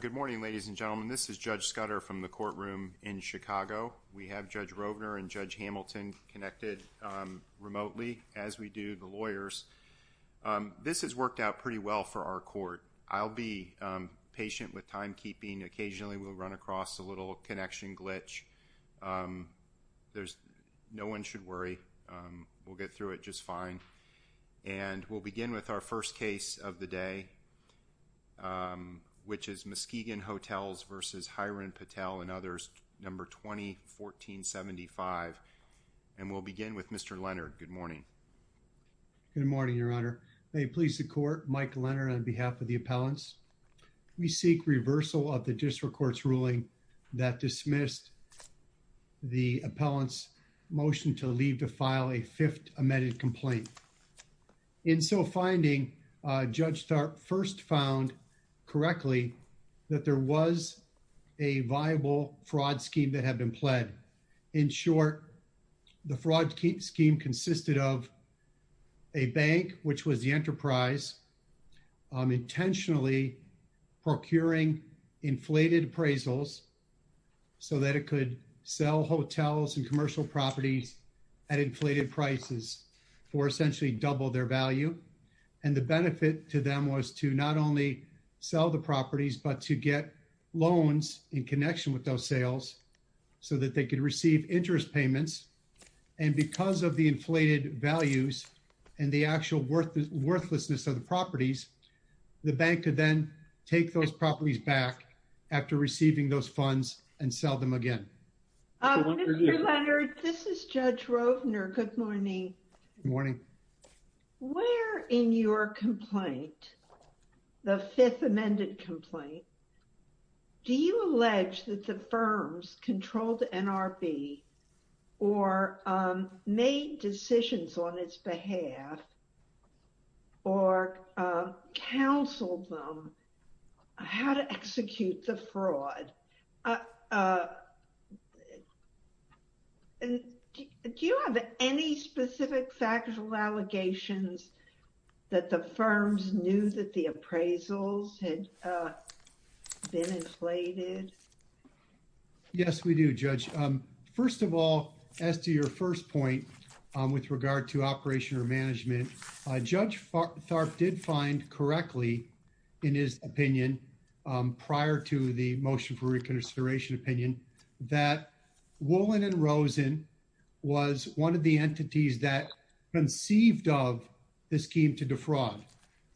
Good morning, ladies and gentlemen. This is Judge Scudder from the courtroom in Chicago. We have Judge Rovner and Judge Hamilton connected remotely, as we do the lawyers. This has worked out pretty well for our court. I'll be patient with timekeeping. Occasionally, we'll run across a little connection glitch. No one should worry. We'll get through it just fine. We'll begin with our first case of the day, which is Muskegan Hotels v. Hiren Patel and others, No. 20-1475. We'll begin with Mr. Leonard. Good morning. Good morning, Your Honor. May it please the court, Mike Leonard on behalf of the appellants. We seek reversal of the district court's ruling that dismissed the appellant's motion to leave to file a fifth amended complaint. In so finding, Judge Tharp first found correctly that there was a viable fraud scheme that had been pled. In short, the fraud scheme consisted of a bank, which was the enterprise, intentionally procuring inflated appraisals so that it could sell hotels and commercial properties at inflated prices for essentially double their value. And the benefit to them was to not only sell the properties, but to get loans in connection with those sales so that they could receive interest payments. And because of the inflated values and the actual worthlessness of the properties, the bank could then take those properties back after receiving those funds and sell them again. Mr. Leonard, this is Judge Rovner. Good morning. Good morning. Where in your complaint, the fifth amended complaint, do you allege that the firms controlled the NRB or made decisions on its behalf or counseled them how to execute the fraud? Do you have any specific factual allegations that the firms knew that the appraisals had been inflated? Yes, we do, Judge. First of all, as to your first point with regard to operation or management, Judge Tharp did find correctly in his opinion prior to the motion for reconsideration opinion that Woolen and Rosen was one of the entities that conceived of the scheme to defraud.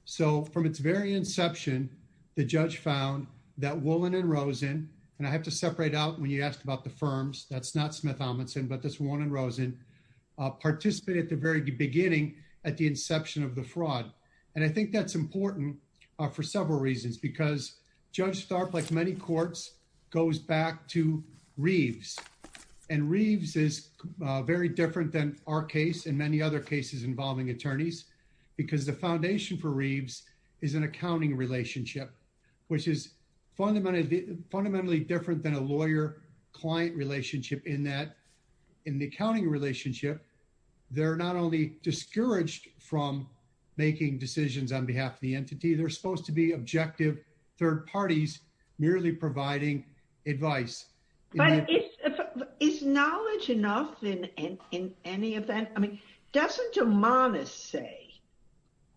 So from its very inception, the judge found that Woolen and Rosen, and I have to separate out when you asked about the firms, that's not Smith-Ominson, but that's Woolen and Rosen, participated at the very beginning at the inception of the fraud. And I think that's important for several reasons because Judge Tharp, like many courts, goes back to Reeves. And Reeves is very different than our case and many other cases involving attorneys because the foundation for Reeves is an accounting relationship, which is fundamentally different than a lawyer-client relationship in that in the accounting relationship, they're not only discouraged from making decisions on behalf of the entity, they're supposed to be objective third parties merely providing advice. But is knowledge enough in any event? I mean, doesn't Amanis say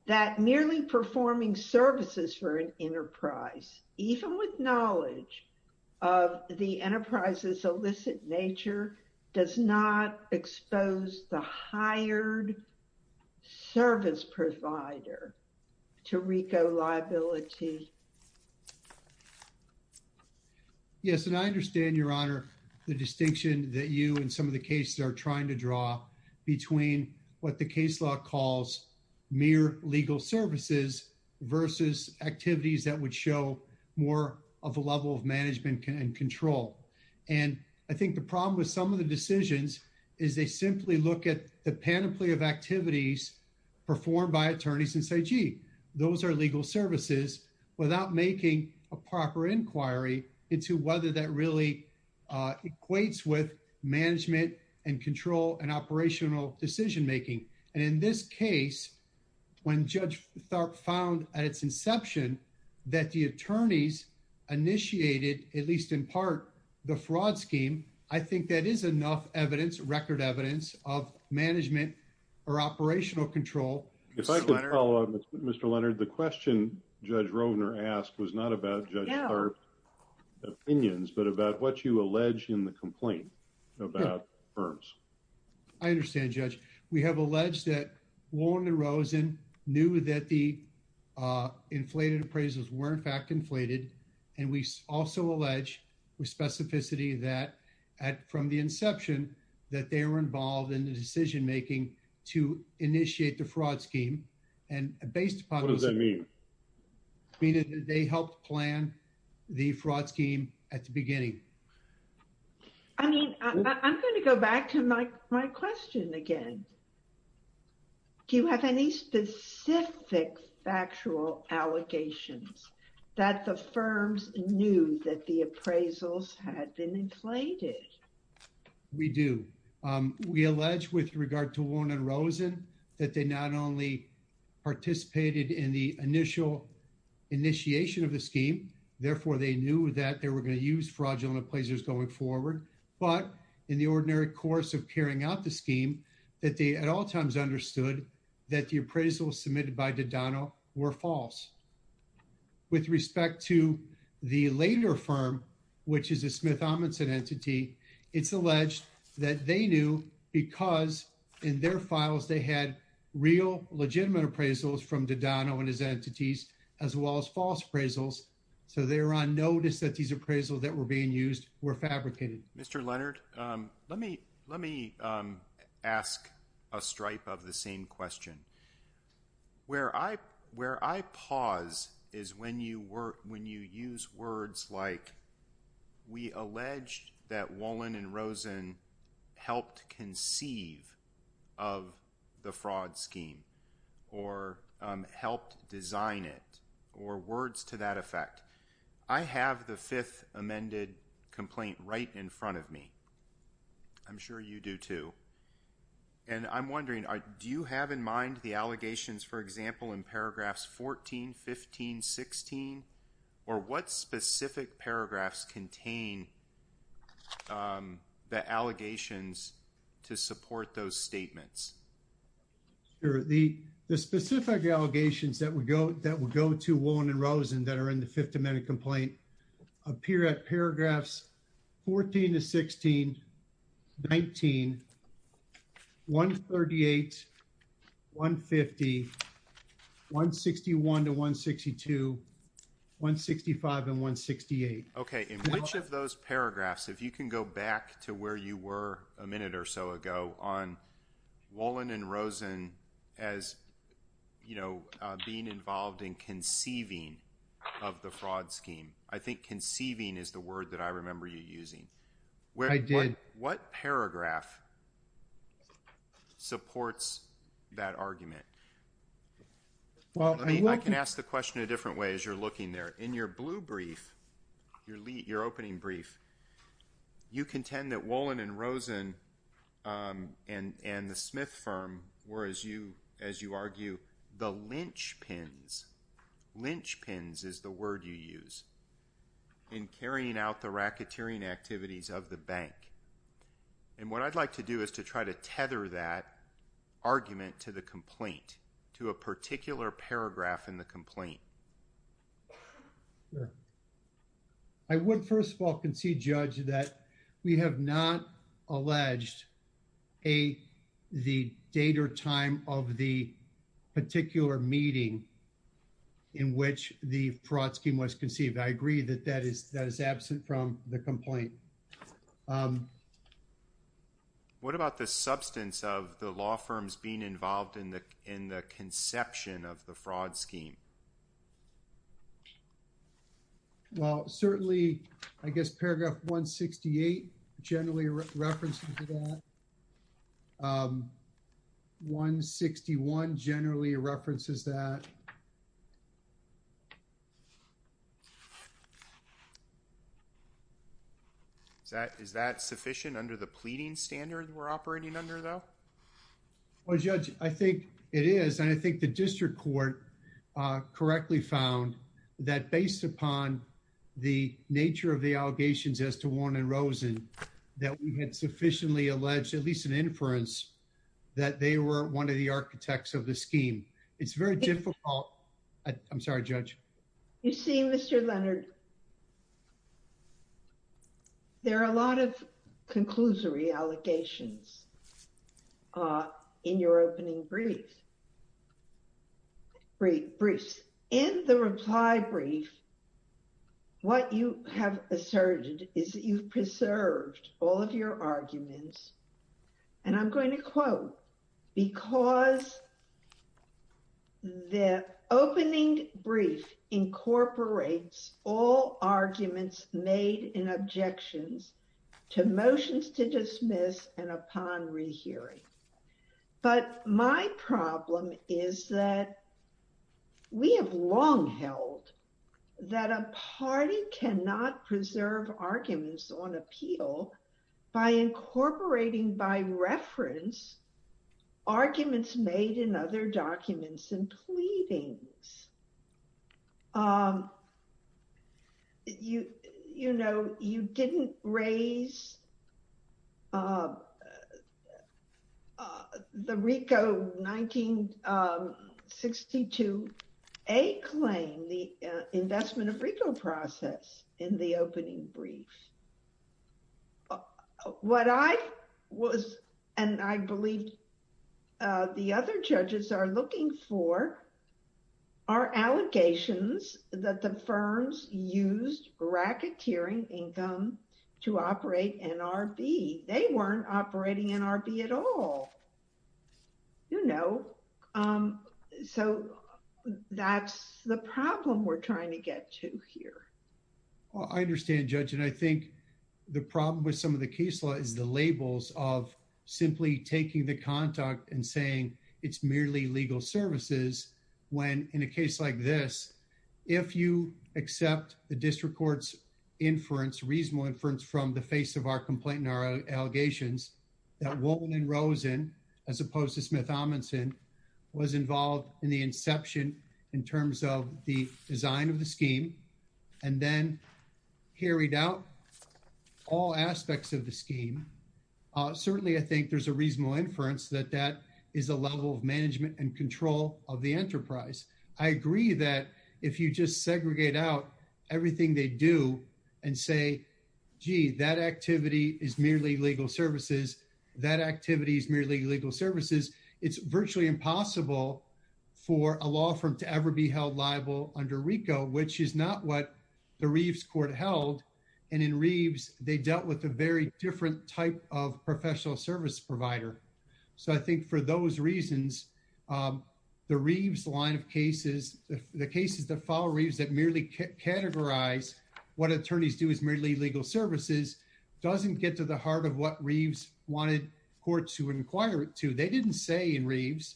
that merely performing services for an enterprise, even with knowledge of the enterprise's illicit nature, does not expose the hired service provider to RICO liability? Yes, and I understand, Your Honor, the distinction that you and some of the cases are trying to draw between what the case law calls mere legal services versus activities that would show more of a level of management and control. And I think the problem with some of the decisions is they simply look at the panoply of activities performed by attorneys and say, those are legal services without making a proper inquiry into whether that really equates with management and control and operational decision-making. And in this case, when Judge Tharp found at its inception that the attorneys initiated, at least in part, the fraud scheme, I think that is enough evidence, record evidence of management or operational control. If I could follow up, Mr. Leonard, the question Judge Rovner asked was not about Judge Tharp's opinions, but about what you allege in the complaint about firms. I understand, Judge. We have alleged that Warren and Rosen knew that the inflated appraisals were, in fact, inflated. And we also allege with specificity that from the inception that they were involved in the decision-making to initiate the fraud scheme. And based upon... What does that mean? Meaning that they helped plan the fraud scheme at the beginning. I mean, I'm going to go back to my question again. Do you have any specific factual allegations that the firms knew that the appraisals had been inflated? We do. We allege with regard to Warren and Rosen that they not only participated in the initial initiation of the scheme, therefore, they knew that they were going to use fraudulent appraisers going forward. But in the ordinary course of carrying out the scheme, that they at all times understood that the appraisals submitted by Dodano were false. With respect to the later firm, which is a Smith Amundsen entity, it's alleged that they knew because in their files they had real legitimate appraisals from Dodano and his entities, as well as false appraisals. So they were on notice that these appraisals that were being used were fabricated. Mr. Leonard, let me ask a stripe of the same question. Where I pause is when you use words like, we allege that Warren and Rosen helped conceive of the fraud scheme, or helped design it, or words to that effect. I have the fifth amended complaint right in front of me. I'm sure you do too. And I'm wondering, do you have in mind the allegations, for example, in paragraphs 14, 15, 16? Or what specific paragraphs contain the allegations to support those statements? Sure. The specific allegations that would go to Warren and Rosen that are in the fifth amended complaint appear at paragraphs 14 to 16, 19, 138, 150, 161 to 162, 165 and 168. Okay. In which of those paragraphs, if you can go back to where you were a minute or so ago on you know, being involved in conceiving of the fraud scheme, I think conceiving is the word that I remember you using. I did. What paragraph supports that argument? I can ask the question a different way as you're looking there. In your blue brief, your opening brief, you contend that Warren and Rosen and the Smith firm were, as you argue, the linchpins. Linchpins is the word you use in carrying out the racketeering activities of the bank. And what I'd like to do is to try to tether that argument to the complaint, to a particular paragraph in the complaint. Sure. I would first of all concede, Judge, that we have not alleged the date or time of the particular meeting in which the fraud scheme was conceived. I agree that that is absent from the complaint. What about the substance of the law firms being involved in the conception of fraud scheme? Well, certainly, I guess paragraph 168 generally references that. 161 generally references that. Is that sufficient under the pleading standard we're operating under though? Well, Judge, I think it is. And I think the district court correctly found that based upon the nature of the allegations as to Warren and Rosen, that we had sufficiently alleged, at least an inference, that they were one of the architects of the scheme. It's very difficult. I'm sorry, Judge. You see, Mr. Leonard, there are a lot of conclusory allegations in your opening briefs. In the reply brief, what you have asserted is that you've preserved all of your arguments. And I'm going to quote, because the opening brief incorporates all arguments made in objections to motions to dismiss and upon rehearing. But my problem is that we have long held that a party cannot preserve arguments on appeal by incorporating by reference arguments made in other documents and pleadings. You know, you didn't raise the RICO 1962A claim, the investment of RICO process in the opening brief. What I was, and I believe the other judges are looking for, are allegations that the firms used racketeering income to operate NRB. They weren't operating NRB at all. You know, so that's the problem we're trying to get to here. Well, I understand, Judge. And I think the problem with some of the case law is the labels of taking the contact and saying it's merely legal services, when in a case like this, if you accept the district court's inference, reasonable inference from the face of our complaint and our allegations, that Wolin and Rosen, as opposed to Smith-Amundsen, was involved in the inception in terms of the design of the scheme, and then carried out all aspects of the scheme. Certainly, I think there's a reasonable inference that that is a level of management and control of the enterprise. I agree that if you just segregate out everything they do and say, gee, that activity is merely legal services, that activity is merely legal services, it's virtually impossible for a law firm to ever be held liable under RICO, which is not what the Reeves court held. And in Reeves, they dealt with a very different type of professional service provider. So I think for those reasons, the Reeves line of cases, the cases that follow Reeves that merely categorize what attorneys do is merely legal services doesn't get to the heart of what Reeves wanted courts to inquire it to. They didn't say in Reeves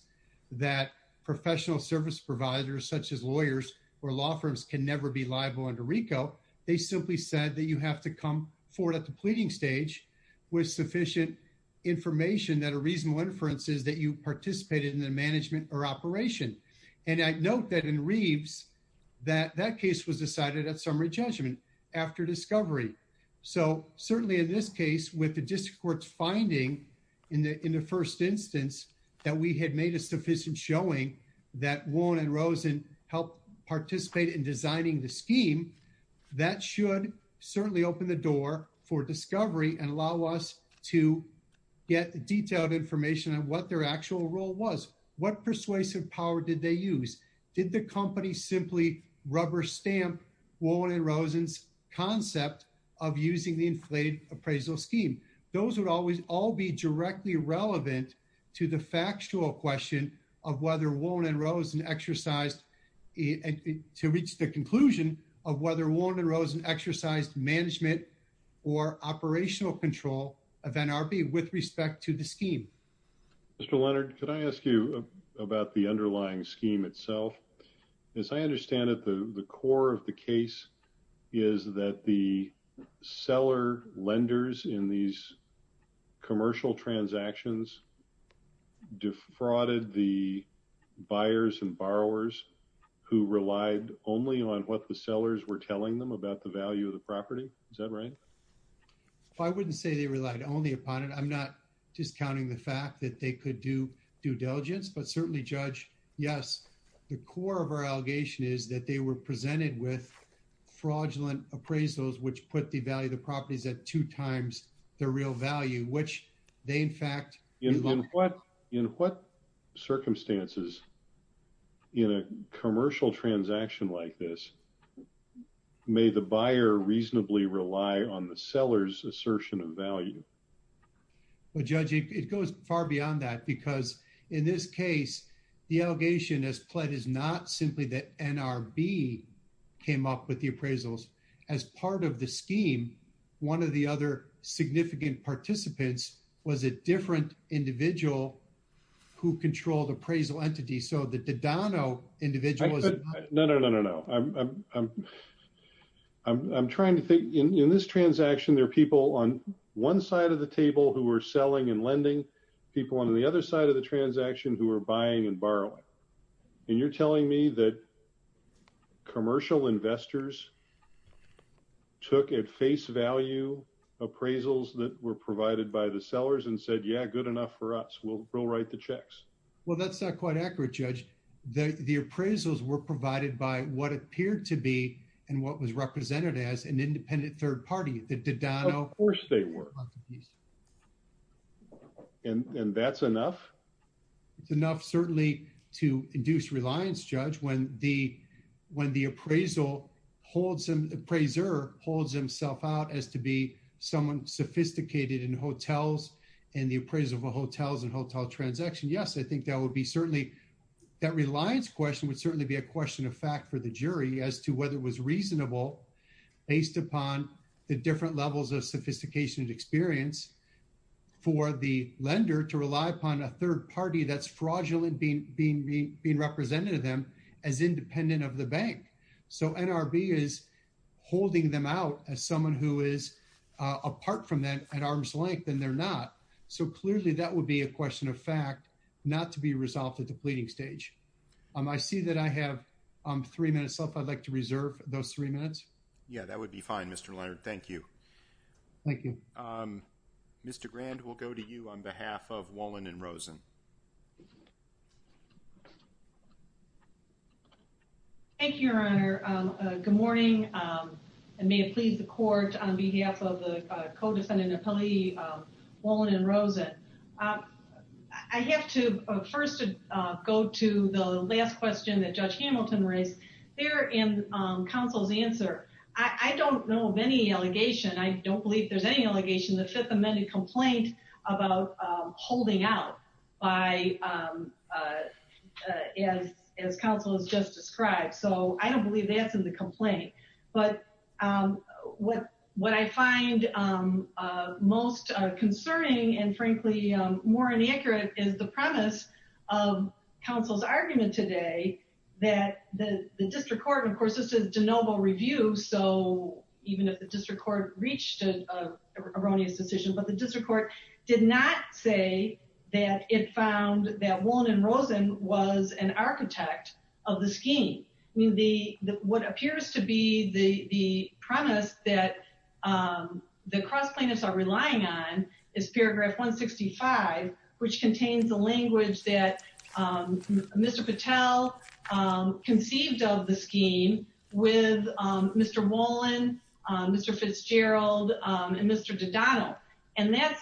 that professional service providers such as lawyers or law firms can never be liable under RICO. They simply said that you have to come forward at the pleading stage with sufficient information that a reasonable inference is that you participated in the management or operation. And I'd note that in Reeves, that that case was decided at summary judgment after discovery. So we had made a sufficient showing that Warren and Rosen helped participate in designing the scheme that should certainly open the door for discovery and allow us to get detailed information on what their actual role was. What persuasive power did they use? Did the company simply rubber stamp Warren and Rosen's concept of using the inflated appraisal scheme? Those would always all be directly relevant to the factual question of whether Warren and Rosen exercised to reach the conclusion of whether Warren and Rosen exercised management or operational control of NRB with respect to the scheme. Mr. Leonard, could I ask you about the underlying scheme itself? As I understand it, the core of the case is that the seller lenders in these commercial transactions defrauded the buyers and borrowers who relied only on what the sellers were telling them about the value of the property. Is that right? I wouldn't say they relied only upon it. I'm not discounting the fact that they could do due diligence, but certainly, Judge, yes, the core of our allegation is that they were presented with fraudulent appraisals, which put the value of the properties at two times the real value, which they, in fact... In what circumstances in a commercial transaction like this may the buyer reasonably rely on the seller's assertion of value? Well, Judge, it goes far beyond that because in this case, the allegation as pled is not simply that NRB came up with the appraisals. As part of the scheme, one of the other significant participants was a different individual who controlled appraisal entities, so the Dodano individual was... No, no, no, no, no. I'm trying to think... In this transaction, there are people on one side of the table who were selling and lending, people on the other side of the transaction who were buying and borrowing, and you're telling me that commercial investors took at face value appraisals that were provided by the sellers and said, yeah, good enough for us. We'll write the checks. Well, that's not quite accurate, Judge. The appraisals were provided by what appeared to be and what was represented as an independent third party, the Dodano... Of course they were. And that's enough? It's enough certainly to induce reliance, Judge. When the appraiser holds himself out as to be someone sophisticated in hotels and the appraisal for hotels and hotel transaction, yes, I think that would be certainly... That reliance question would certainly be a question of fact for the jury as to whether it was reasonable based upon the different levels of sophistication and experience for the lender to rely upon a third party that's fraudulent being represented to them as independent of the bank. So NRB is holding them out as someone who is apart from them at arm's length, and they're not. So clearly that would be a question of fact not to be resolved at the pleading stage. I see that I have three minutes left. I'd like to reserve those three minutes. Yeah, that would be fine, Mr. Leonard. Thank you. Thank you. Mr. Grand, we'll go to you on behalf of Wolin and Rosen. Thank you, Your Honor. Good morning. And may it please the court on behalf of the co-defendant appellee, Wolin and Rosen. I have to first go to the last question that Judge Hamilton raised there in counsel's answer. I don't know of any allegation. I don't believe there's any allegation in the Fifth Amendment complaint about holding out as counsel just described. So I don't believe that's in the complaint. But what I find most concerning and frankly more inaccurate is the premise of counsel's argument today that the district court, of course, this is de novo review. So even if the district court reached an erroneous decision, but the I mean, what appears to be the premise that the cross plaintiffs are relying on is paragraph 165, which contains the language that Mr. Patel conceived of the scheme with Mr. Wolin, Mr. Fitzgerald and Mr. Dodano. And that's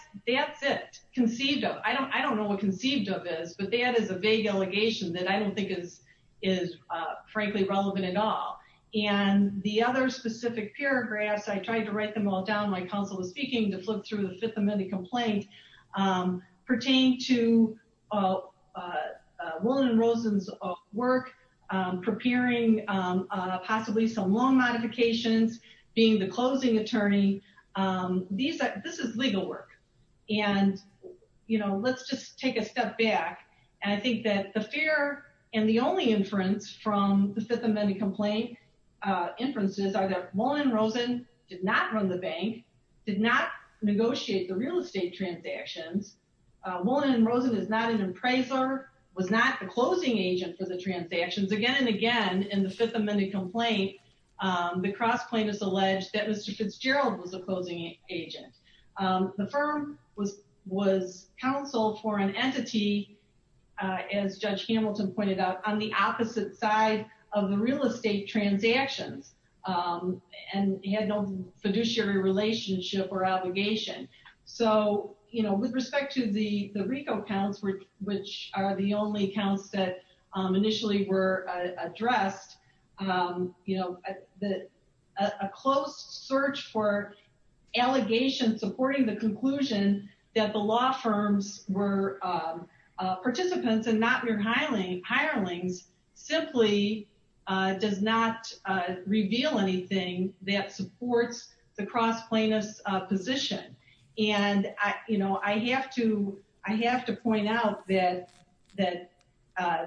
it, conceived of. I don't know what conceived of is, but that is a allegation that I don't think is frankly relevant at all. And the other specific paragraphs, I tried to write them all down when counsel was speaking to flip through the Fifth Amendment complaint pertained to Wolin and Rosen's work preparing possibly some loan modifications, being the closing attorney. This is legal work. And, you know, let's just take a step back. And I think that the fear and the only inference from the Fifth Amendment complaint inferences are that Wolin and Rosen did not run the bank, did not negotiate the real estate transactions. Wolin and Rosen is not an appraiser, was not the closing agent for the transactions. Again and again in the Fifth Amendment complaint, the cross plaintiffs alleged that Mr. Fitzgerald was a as Judge Hamilton pointed out, on the opposite side of the real estate transactions and he had no fiduciary relationship or obligation. So, you know, with respect to the RICO accounts, which are the only accounts that initially were addressed, you know, a close search for allegations supporting the conclusion that the law firms were participants and not mere hirelings simply does not reveal anything that supports the cross plaintiffs position. And, you know, I have to point out that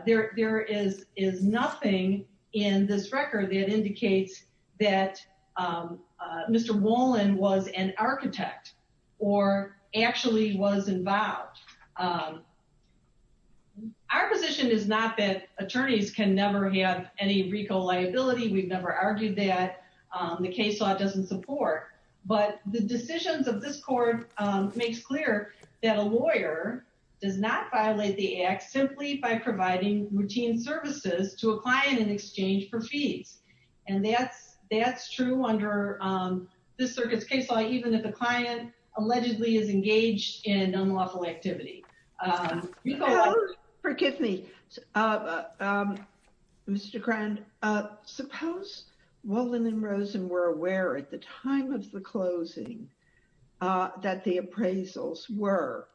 there is nothing in this record that indicates that Mr. Wolin was an architect or actually was involved. Our position is not that attorneys can never have any RICO liability. We've never argued that. The case law doesn't support. But the decisions of this court makes clear that a lawyer does not and that's true under this circuit's case law, even if the client allegedly is engaged in unlawful activity. Forgive me, Mr. Crand, suppose Wolin and Rosen were aware at the time of the closing that the appraisals were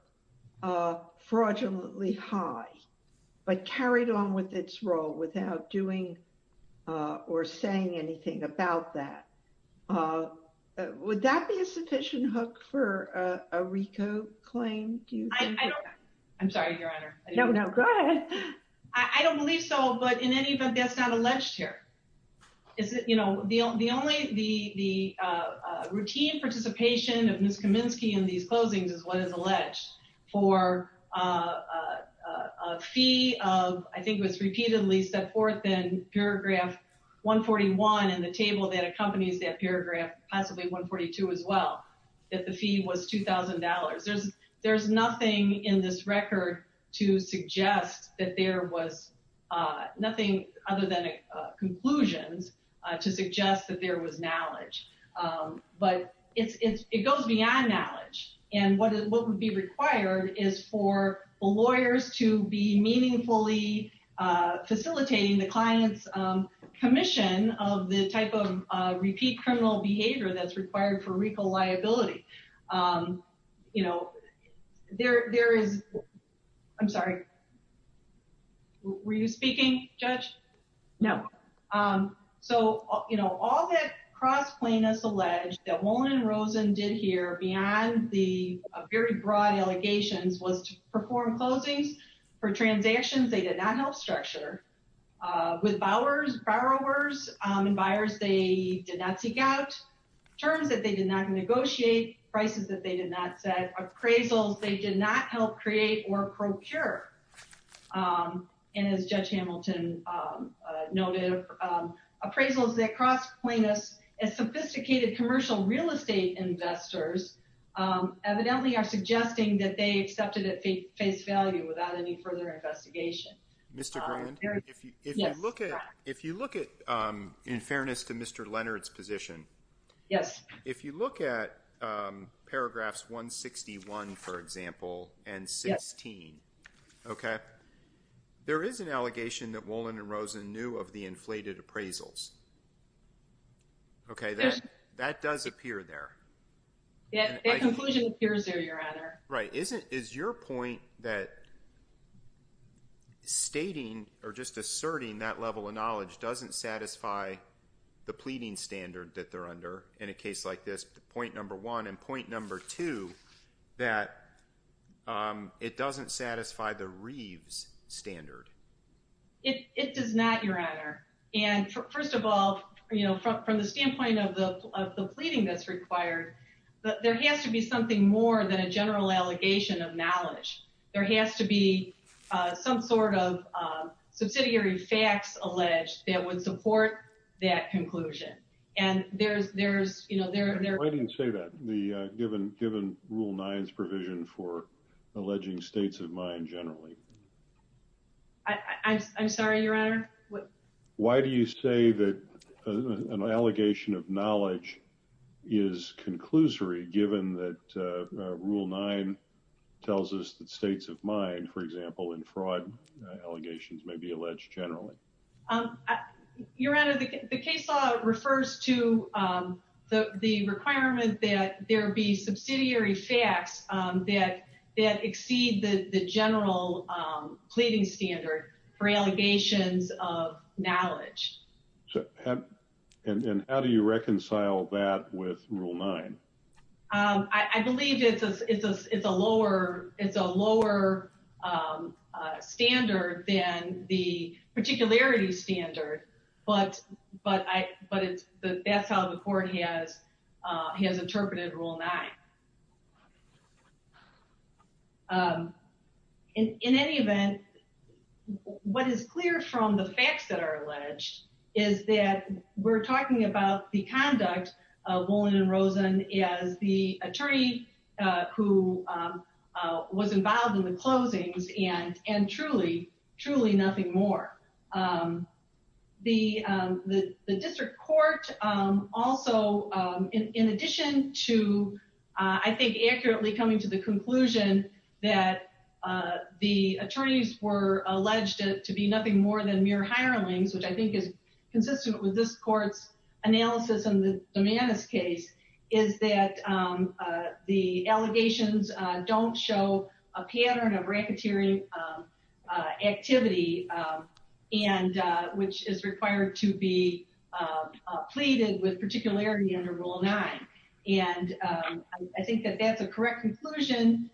fraudulently high but carried on with its role without doing or saying anything about that. Would that be a sufficient hook for a RICO claim? I'm sorry, Your Honor. No, no, go ahead. I don't believe so. But in any event, that's not alleged here. Is it? You know, the only the routine participation of Ms. Kaminsky in these closings is what is alleged for a fee of, I think it was repeatedly set forth in paragraph 141 in the table that accompanies that paragraph, possibly 142 as well, that the fee was $2,000. There's nothing in this record to suggest that there was nothing other than conclusions to suggest that was knowledge. But it goes beyond knowledge and what would be required is for lawyers to be meaningfully facilitating the client's commission of the type of repeat criminal behavior that's required for RICO liability. You know, there is, I'm sorry, were you speaking, Judge? No. So, you know, all that cross plainness alleged that Wolin and Rosen did here beyond the very broad allegations was to perform closings for transactions they did not help structure with borrowers and buyers they did not seek out, terms that they did not negotiate, prices that they did not set, appraisals they did not help create or procure. And as Judge Hamilton noted, appraisals that cross plainness as sophisticated commercial real estate investors evidently are suggesting that they accepted at face value without any further investigation. Mr. Grand, if you look at, in fairness to Mr. Leonard's position, yes, if you look at paragraphs 161, for example, and 16, okay, there is an allegation that Wolin and Rosen knew of the inflated appraisals. Okay, that does appear there. Yeah, the conclusion appears there, your honor. Right. Is it, is your point that stating or just asserting that level of knowledge doesn't satisfy the pleading standard that they're under in a case like this, point number one, and point number two, that it doesn't satisfy the Reeves standard? It does not, your honor. And first of all, you know, from the standpoint of the pleading that's required, there has to be something more than a general allegation of knowledge. There has to be some sort of subsidiary facts alleged that would support that conclusion. And there's, there's, you know, there, there, I didn't say that the given, given rule nine's provision for alleging states of mind generally. I, I'm sorry, your honor. Why do you say that an allegation of knowledge is conclusory given that rule nine tells us that states of mind, for example, in fraud allegations may be alleged generally? Your honor, the case law refers to the requirement that there be subsidiary facts that, that exceed the general pleading standard for allegations of knowledge. And how do you reconcile that with rule nine? I believe it's a, it's a, it's a lower, it's a lower standard than the particularity standard, but, but I, but it's, that's how the court has, has interpreted rule nine. In any event, what is clear from the facts that are alleged is that we're talking about the conduct of Woolin and Rosen as the attorney who was involved in the closings and, and truly, truly nothing more. The, the, the district court also in addition to I think accurately coming to the conclusion that the attorneys were alleged to be nothing more than mere hirelings, which I think is consistent with this court's analysis and the Dumanis case is that the allegations don't show a pattern of racketeering activity. And which is required to be pleaded with particularity under rule nine. And I think that's a correct conclusion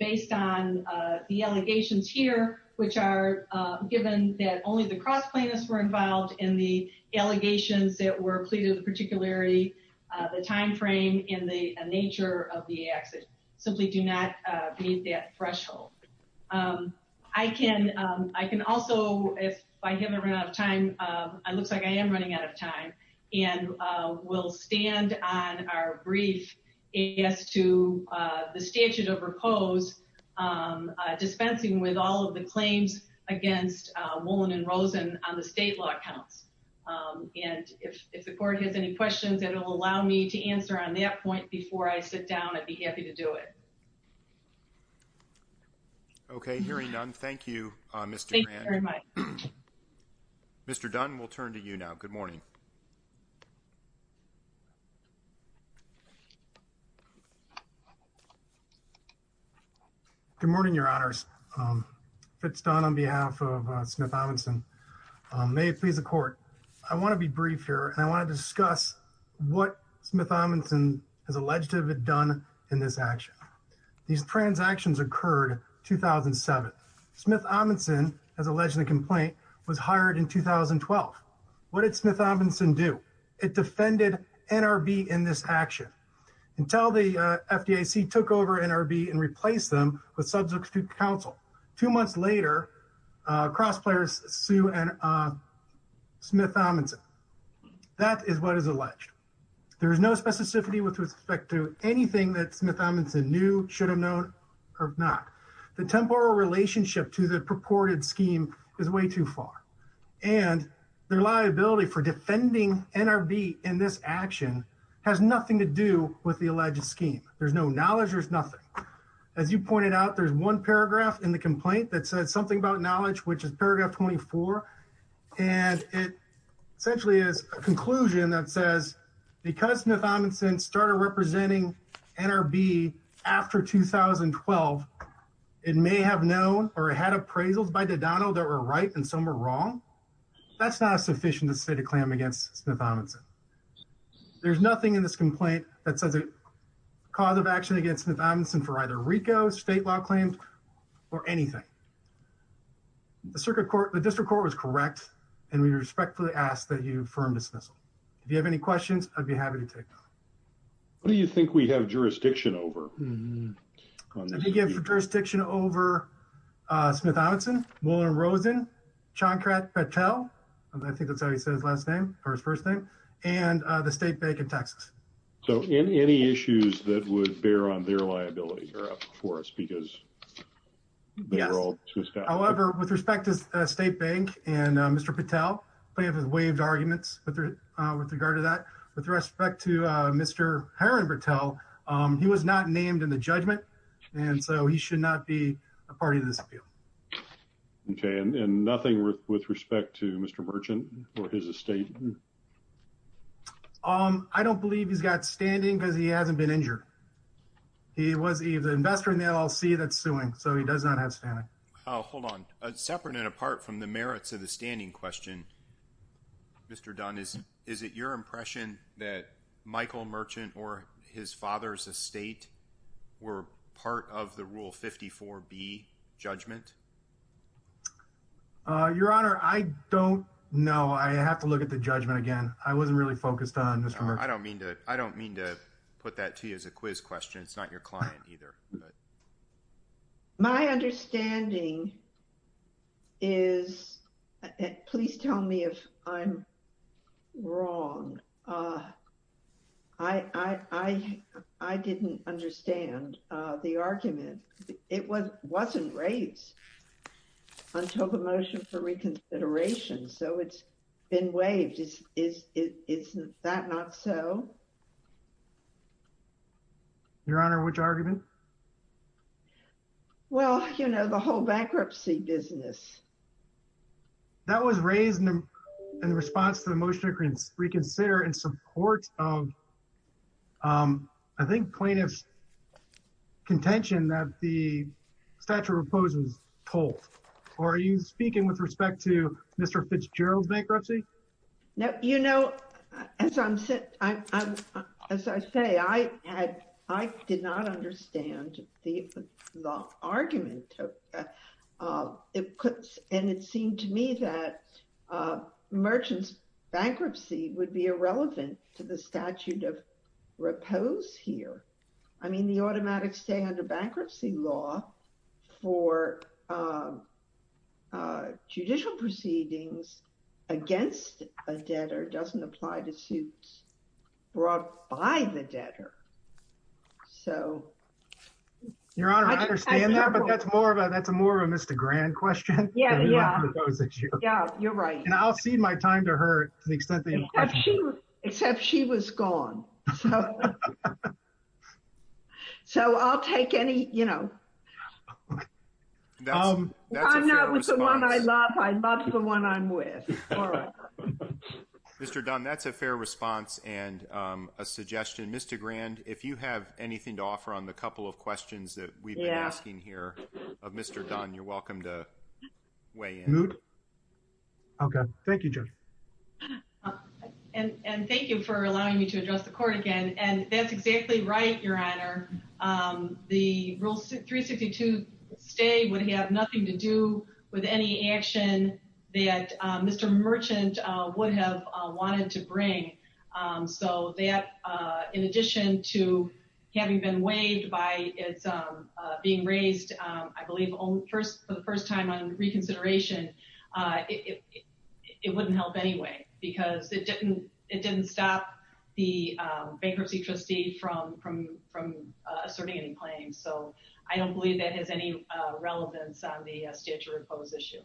based on the allegations here, which are given that only the cross plaintiffs were involved in the allegations that were pleaded with particularity, the timeframe and the nature of the acts that simply do not meet that threshold. I can, I can also, if I haven't run out of time, it looks like I am running out of time and we'll stand on our brief as to the statute of repose dispensing with all of the claims against Woolin and Rosen on the state law accounts. And if, if the court has any questions that will allow me to answer on that point before I sit down, I'd be happy to do it. Okay. Hearing none. Thank you, Mr. Thank you very much. Mr. Dunn, we'll turn to you now. Good morning. Good morning, your honors. Fitz Dunn on behalf of Smith Amundson. May it please the court. I want to be brief here and I want to discuss what Smith Amundson has alleged to have done in this action. These transactions occurred 2007. Smith Amundson has alleged the complaint was hired in 2012. What did Smith Amundson do? It defended NRB in this action until the FDIC took over NRB and replaced them with substitute counsel. Two months later, cross players, Sue and Smith Amundson. That is what is alleged. There is no specificity with respect to anything that Smith Amundson knew should have known or not. The temporal relationship to the purported scheme is way too far. And their liability for defending NRB in this action has nothing to do with the alleged scheme. There's no knowledge. There's nothing. As you pointed out, there's one paragraph in the complaint that said something about knowledge, which is paragraph 24. And it essentially is a conclusion that says because Smith Amundson started representing NRB after 2012, it may have known or had appraisals by Dodano that were right and some were wrong. That's not sufficient to state a claim against Smith Amundson. There's nothing in this complaint that says a cause of action against Smith Amundson for either RICO state law claims or anything. The district court was correct and we respectfully ask that you affirm dismissal. If you have any questions, I'd be happy to take them. What do you think we have jurisdiction over? We have jurisdiction over Smith Amundson, Mullen Rosen, Chankrat Patel, I think that's how he says his first name, and the state bank in Texas. So any issues that would on their liability are up for us because they were all. However, with respect to state bank and Mr. Patel, we have waived arguments with regard to that. With respect to Mr. Herron Patel, he was not named in the judgment, and so he should not be a party to this appeal. Okay, and nothing with respect to Mr. Merchant or his estate? I don't believe he's got standing because he hasn't been injured. He was either investor in the LLC that's suing, so he does not have standing. Oh, hold on. Separate and apart from the merits of the standing question, Mr. Dunn, is it your impression that Michael Merchant or his father's estate were part of the Rule 54B judgment? Your Honor, I don't know. I have to look at the judgment again. I wasn't really focused on this. I don't mean to put that to you as a quiz question. It's not your client either. My understanding is, please tell me if I'm wrong. I didn't understand the argument. It wasn't raised until the motion for reconsideration, so it's been waived. Isn't that not so? Your Honor, which argument? Well, you know, the whole bankruptcy business. That was raised in response to the motion to reconsider in support of, I think, plaintiff's contention that the statute of repose was pulled, or are you speaking with respect to Mr. Fitzgerald's bankruptcy? You know, as I say, I did not understand the argument. And it seemed to me that Merchant's bankruptcy would be irrelevant to the statute of repose here. I mean, the automatic stay under bankruptcy law for judicial proceedings against a debtor doesn't apply to suits brought by the debtor, so. Your Honor, I understand that, but that's more of a Mr. Grand question. Yeah, you're right. And I'll cede my time to her to the extent that you question me. Except she was gone, so I'll take any, you know. I'm not with the one I love, I love the one I'm with. Mr. Dunn, that's a fair response and a suggestion. Mr. Grand, if you have anything to offer on the couple of questions that we've been asking here of Mr. Dunn, you're welcome to weigh in. Moot. Okay, thank you, Judge. And thank you for allowing me to address the court again, and that's exactly right, Your Honor. The rule 362 stay would have nothing to do with any action that Mr. Merchant would have wanted to bring. So that, in addition to having been waived by it's being raised, I believe for the first time on reconsideration, it wouldn't help anyway, because it didn't stop the bankruptcy trustee from asserting any claims. So I don't believe that has any relevance on the stand to repose issue.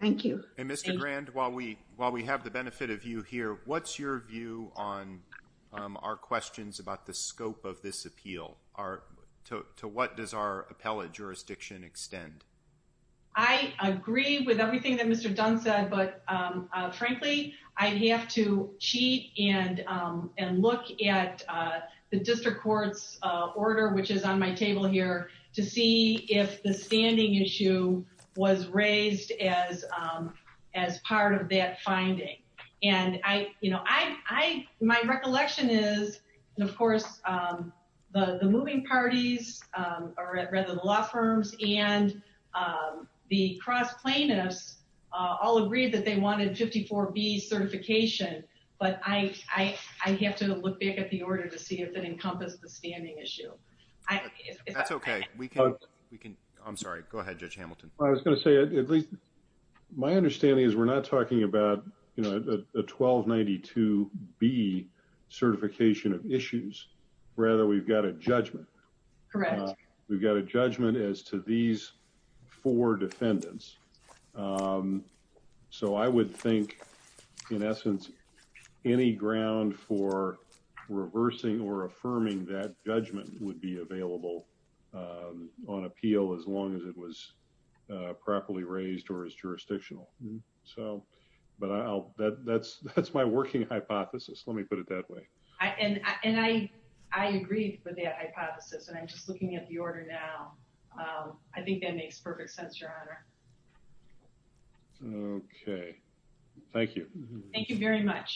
Thank you. And Mr. Grand, while we have the benefit of you here, what's your view on our questions about the scope of this appeal? To what does our appellate jurisdiction extend? I agree with everything that Mr. Dunn said, but frankly, I'd have to cheat and look at the district court's order, which is on my table here, to see if the standing issue was raised as part of that finding. And my recollection is, and of course, the moving parties, or rather the law firms and the cross plaintiffs all agreed that they wanted 54B certification, but I have to look back at the order to see if it encompassed the standing issue. That's okay. I'm sorry. Go ahead, Judge Hamilton. I was going to say, at least my understanding is we're not talking about a 1292B certification of issues. Rather, we've got a judgment. Correct. We've got a judgment as to these four defendants. So I would think, in essence, any ground for reversing or affirming that judgment would be available on appeal as long as it was properly raised or is jurisdictional. But that's my working hypothesis. Let me put it that way. And I agree with that hypothesis, and I'm just looking at the order now. I think that makes perfect sense, Your Honor. Okay. Thank you. Thank you very much.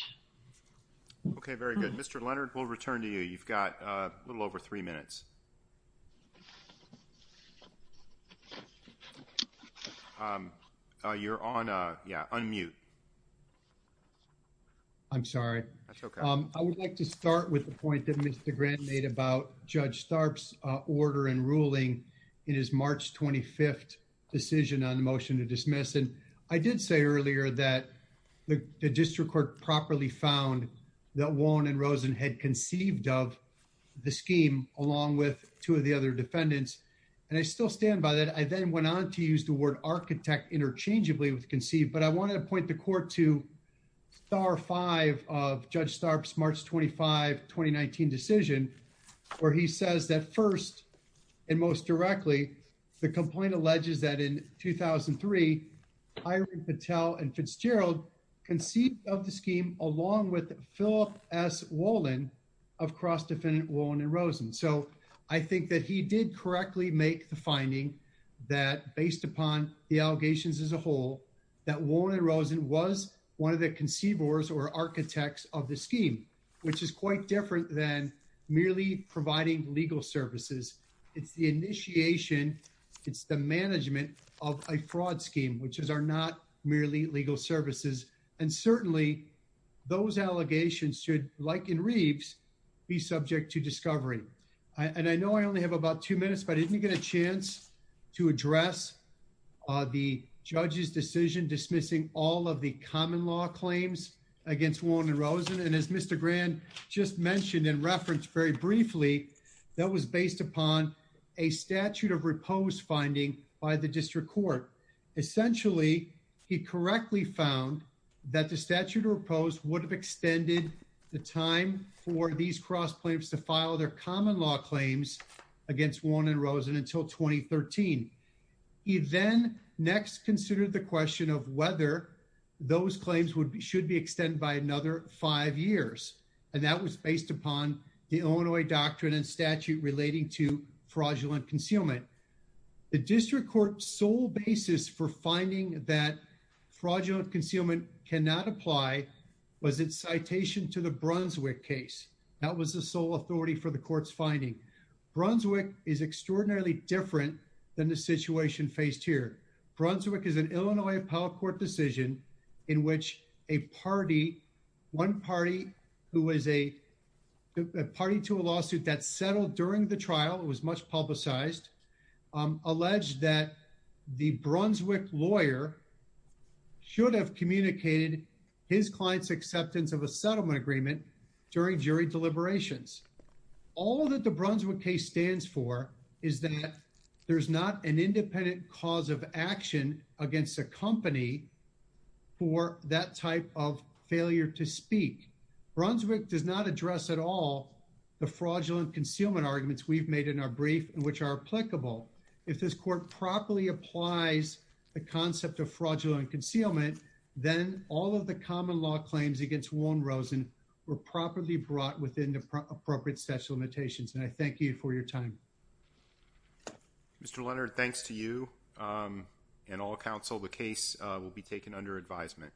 Okay. Very good. Mr. Leonard, we'll return to you. You've got a little over three minutes. You're on, yeah, unmute. I'm sorry. That's okay. I would like to start with the point that Mr. Grant made about Judge Starp's order and ruling in his March 25th decision on the motion to dismiss. And I did say earlier that the district court properly found that Wong and Rosen had conceived of the scheme along with two of the other defendants. And I still stand by that. I then went on to use the word architect interchangeably with Judge Starp's March 25, 2019 decision, where he says that first and most directly, the complaint alleges that in 2003, Irene Patel and Fitzgerald conceived of the scheme along with Philip S. Wollin of cross-defendant Wong and Rosen. So I think that he did correctly make the finding that based upon the allegations as a whole, that Wong and Rosen was one of the conceivers or architects of the scheme, which is quite different than merely providing legal services. It's the initiation, it's the management of a fraud scheme, which are not merely legal services. And certainly those allegations should, like in Reeves, be subject to discovery. And I know I only have about two minutes, but didn't you get a chance to address the judge's decision dismissing all of the common law claims against Wong and Rosen? And as Mr. Grand just mentioned in reference very briefly, that was based upon a statute of repose finding by the district court. Essentially, he correctly found that the statute of repose would have extended the time for these cross plaintiffs to file their common law claims against Wong and Rosen until 2013. He then next considered the question of whether those claims would be, should be extended by another five years. And that was based upon the Illinois doctrine and statute relating to fraudulent concealment. The district court's sole basis for finding that fraudulent concealment cannot apply was its citation to the Brunswick case. That was the sole authority for the court's finding. Brunswick is extraordinarily different than the situation faced here. Brunswick is an Illinois appellate court decision in which a party, one party who is a party to a lawsuit that settled during the trial, it was much publicized, alleged that the Brunswick lawyer should have communicated his client's acceptance of a settlement agreement during jury deliberations. All that the Brunswick case stands for is that there's not an independent cause of action against a company for that type of failure to speak. Brunswick does not address at all the fraudulent concealment arguments we've made in our brief and which are applicable. If this court properly applies the concept of fraudulent concealment, we're properly brought within the appropriate statute of limitations. And I thank you for your time. Mr. Leonard, thanks to you and all counsel. The case will be taken under advisement.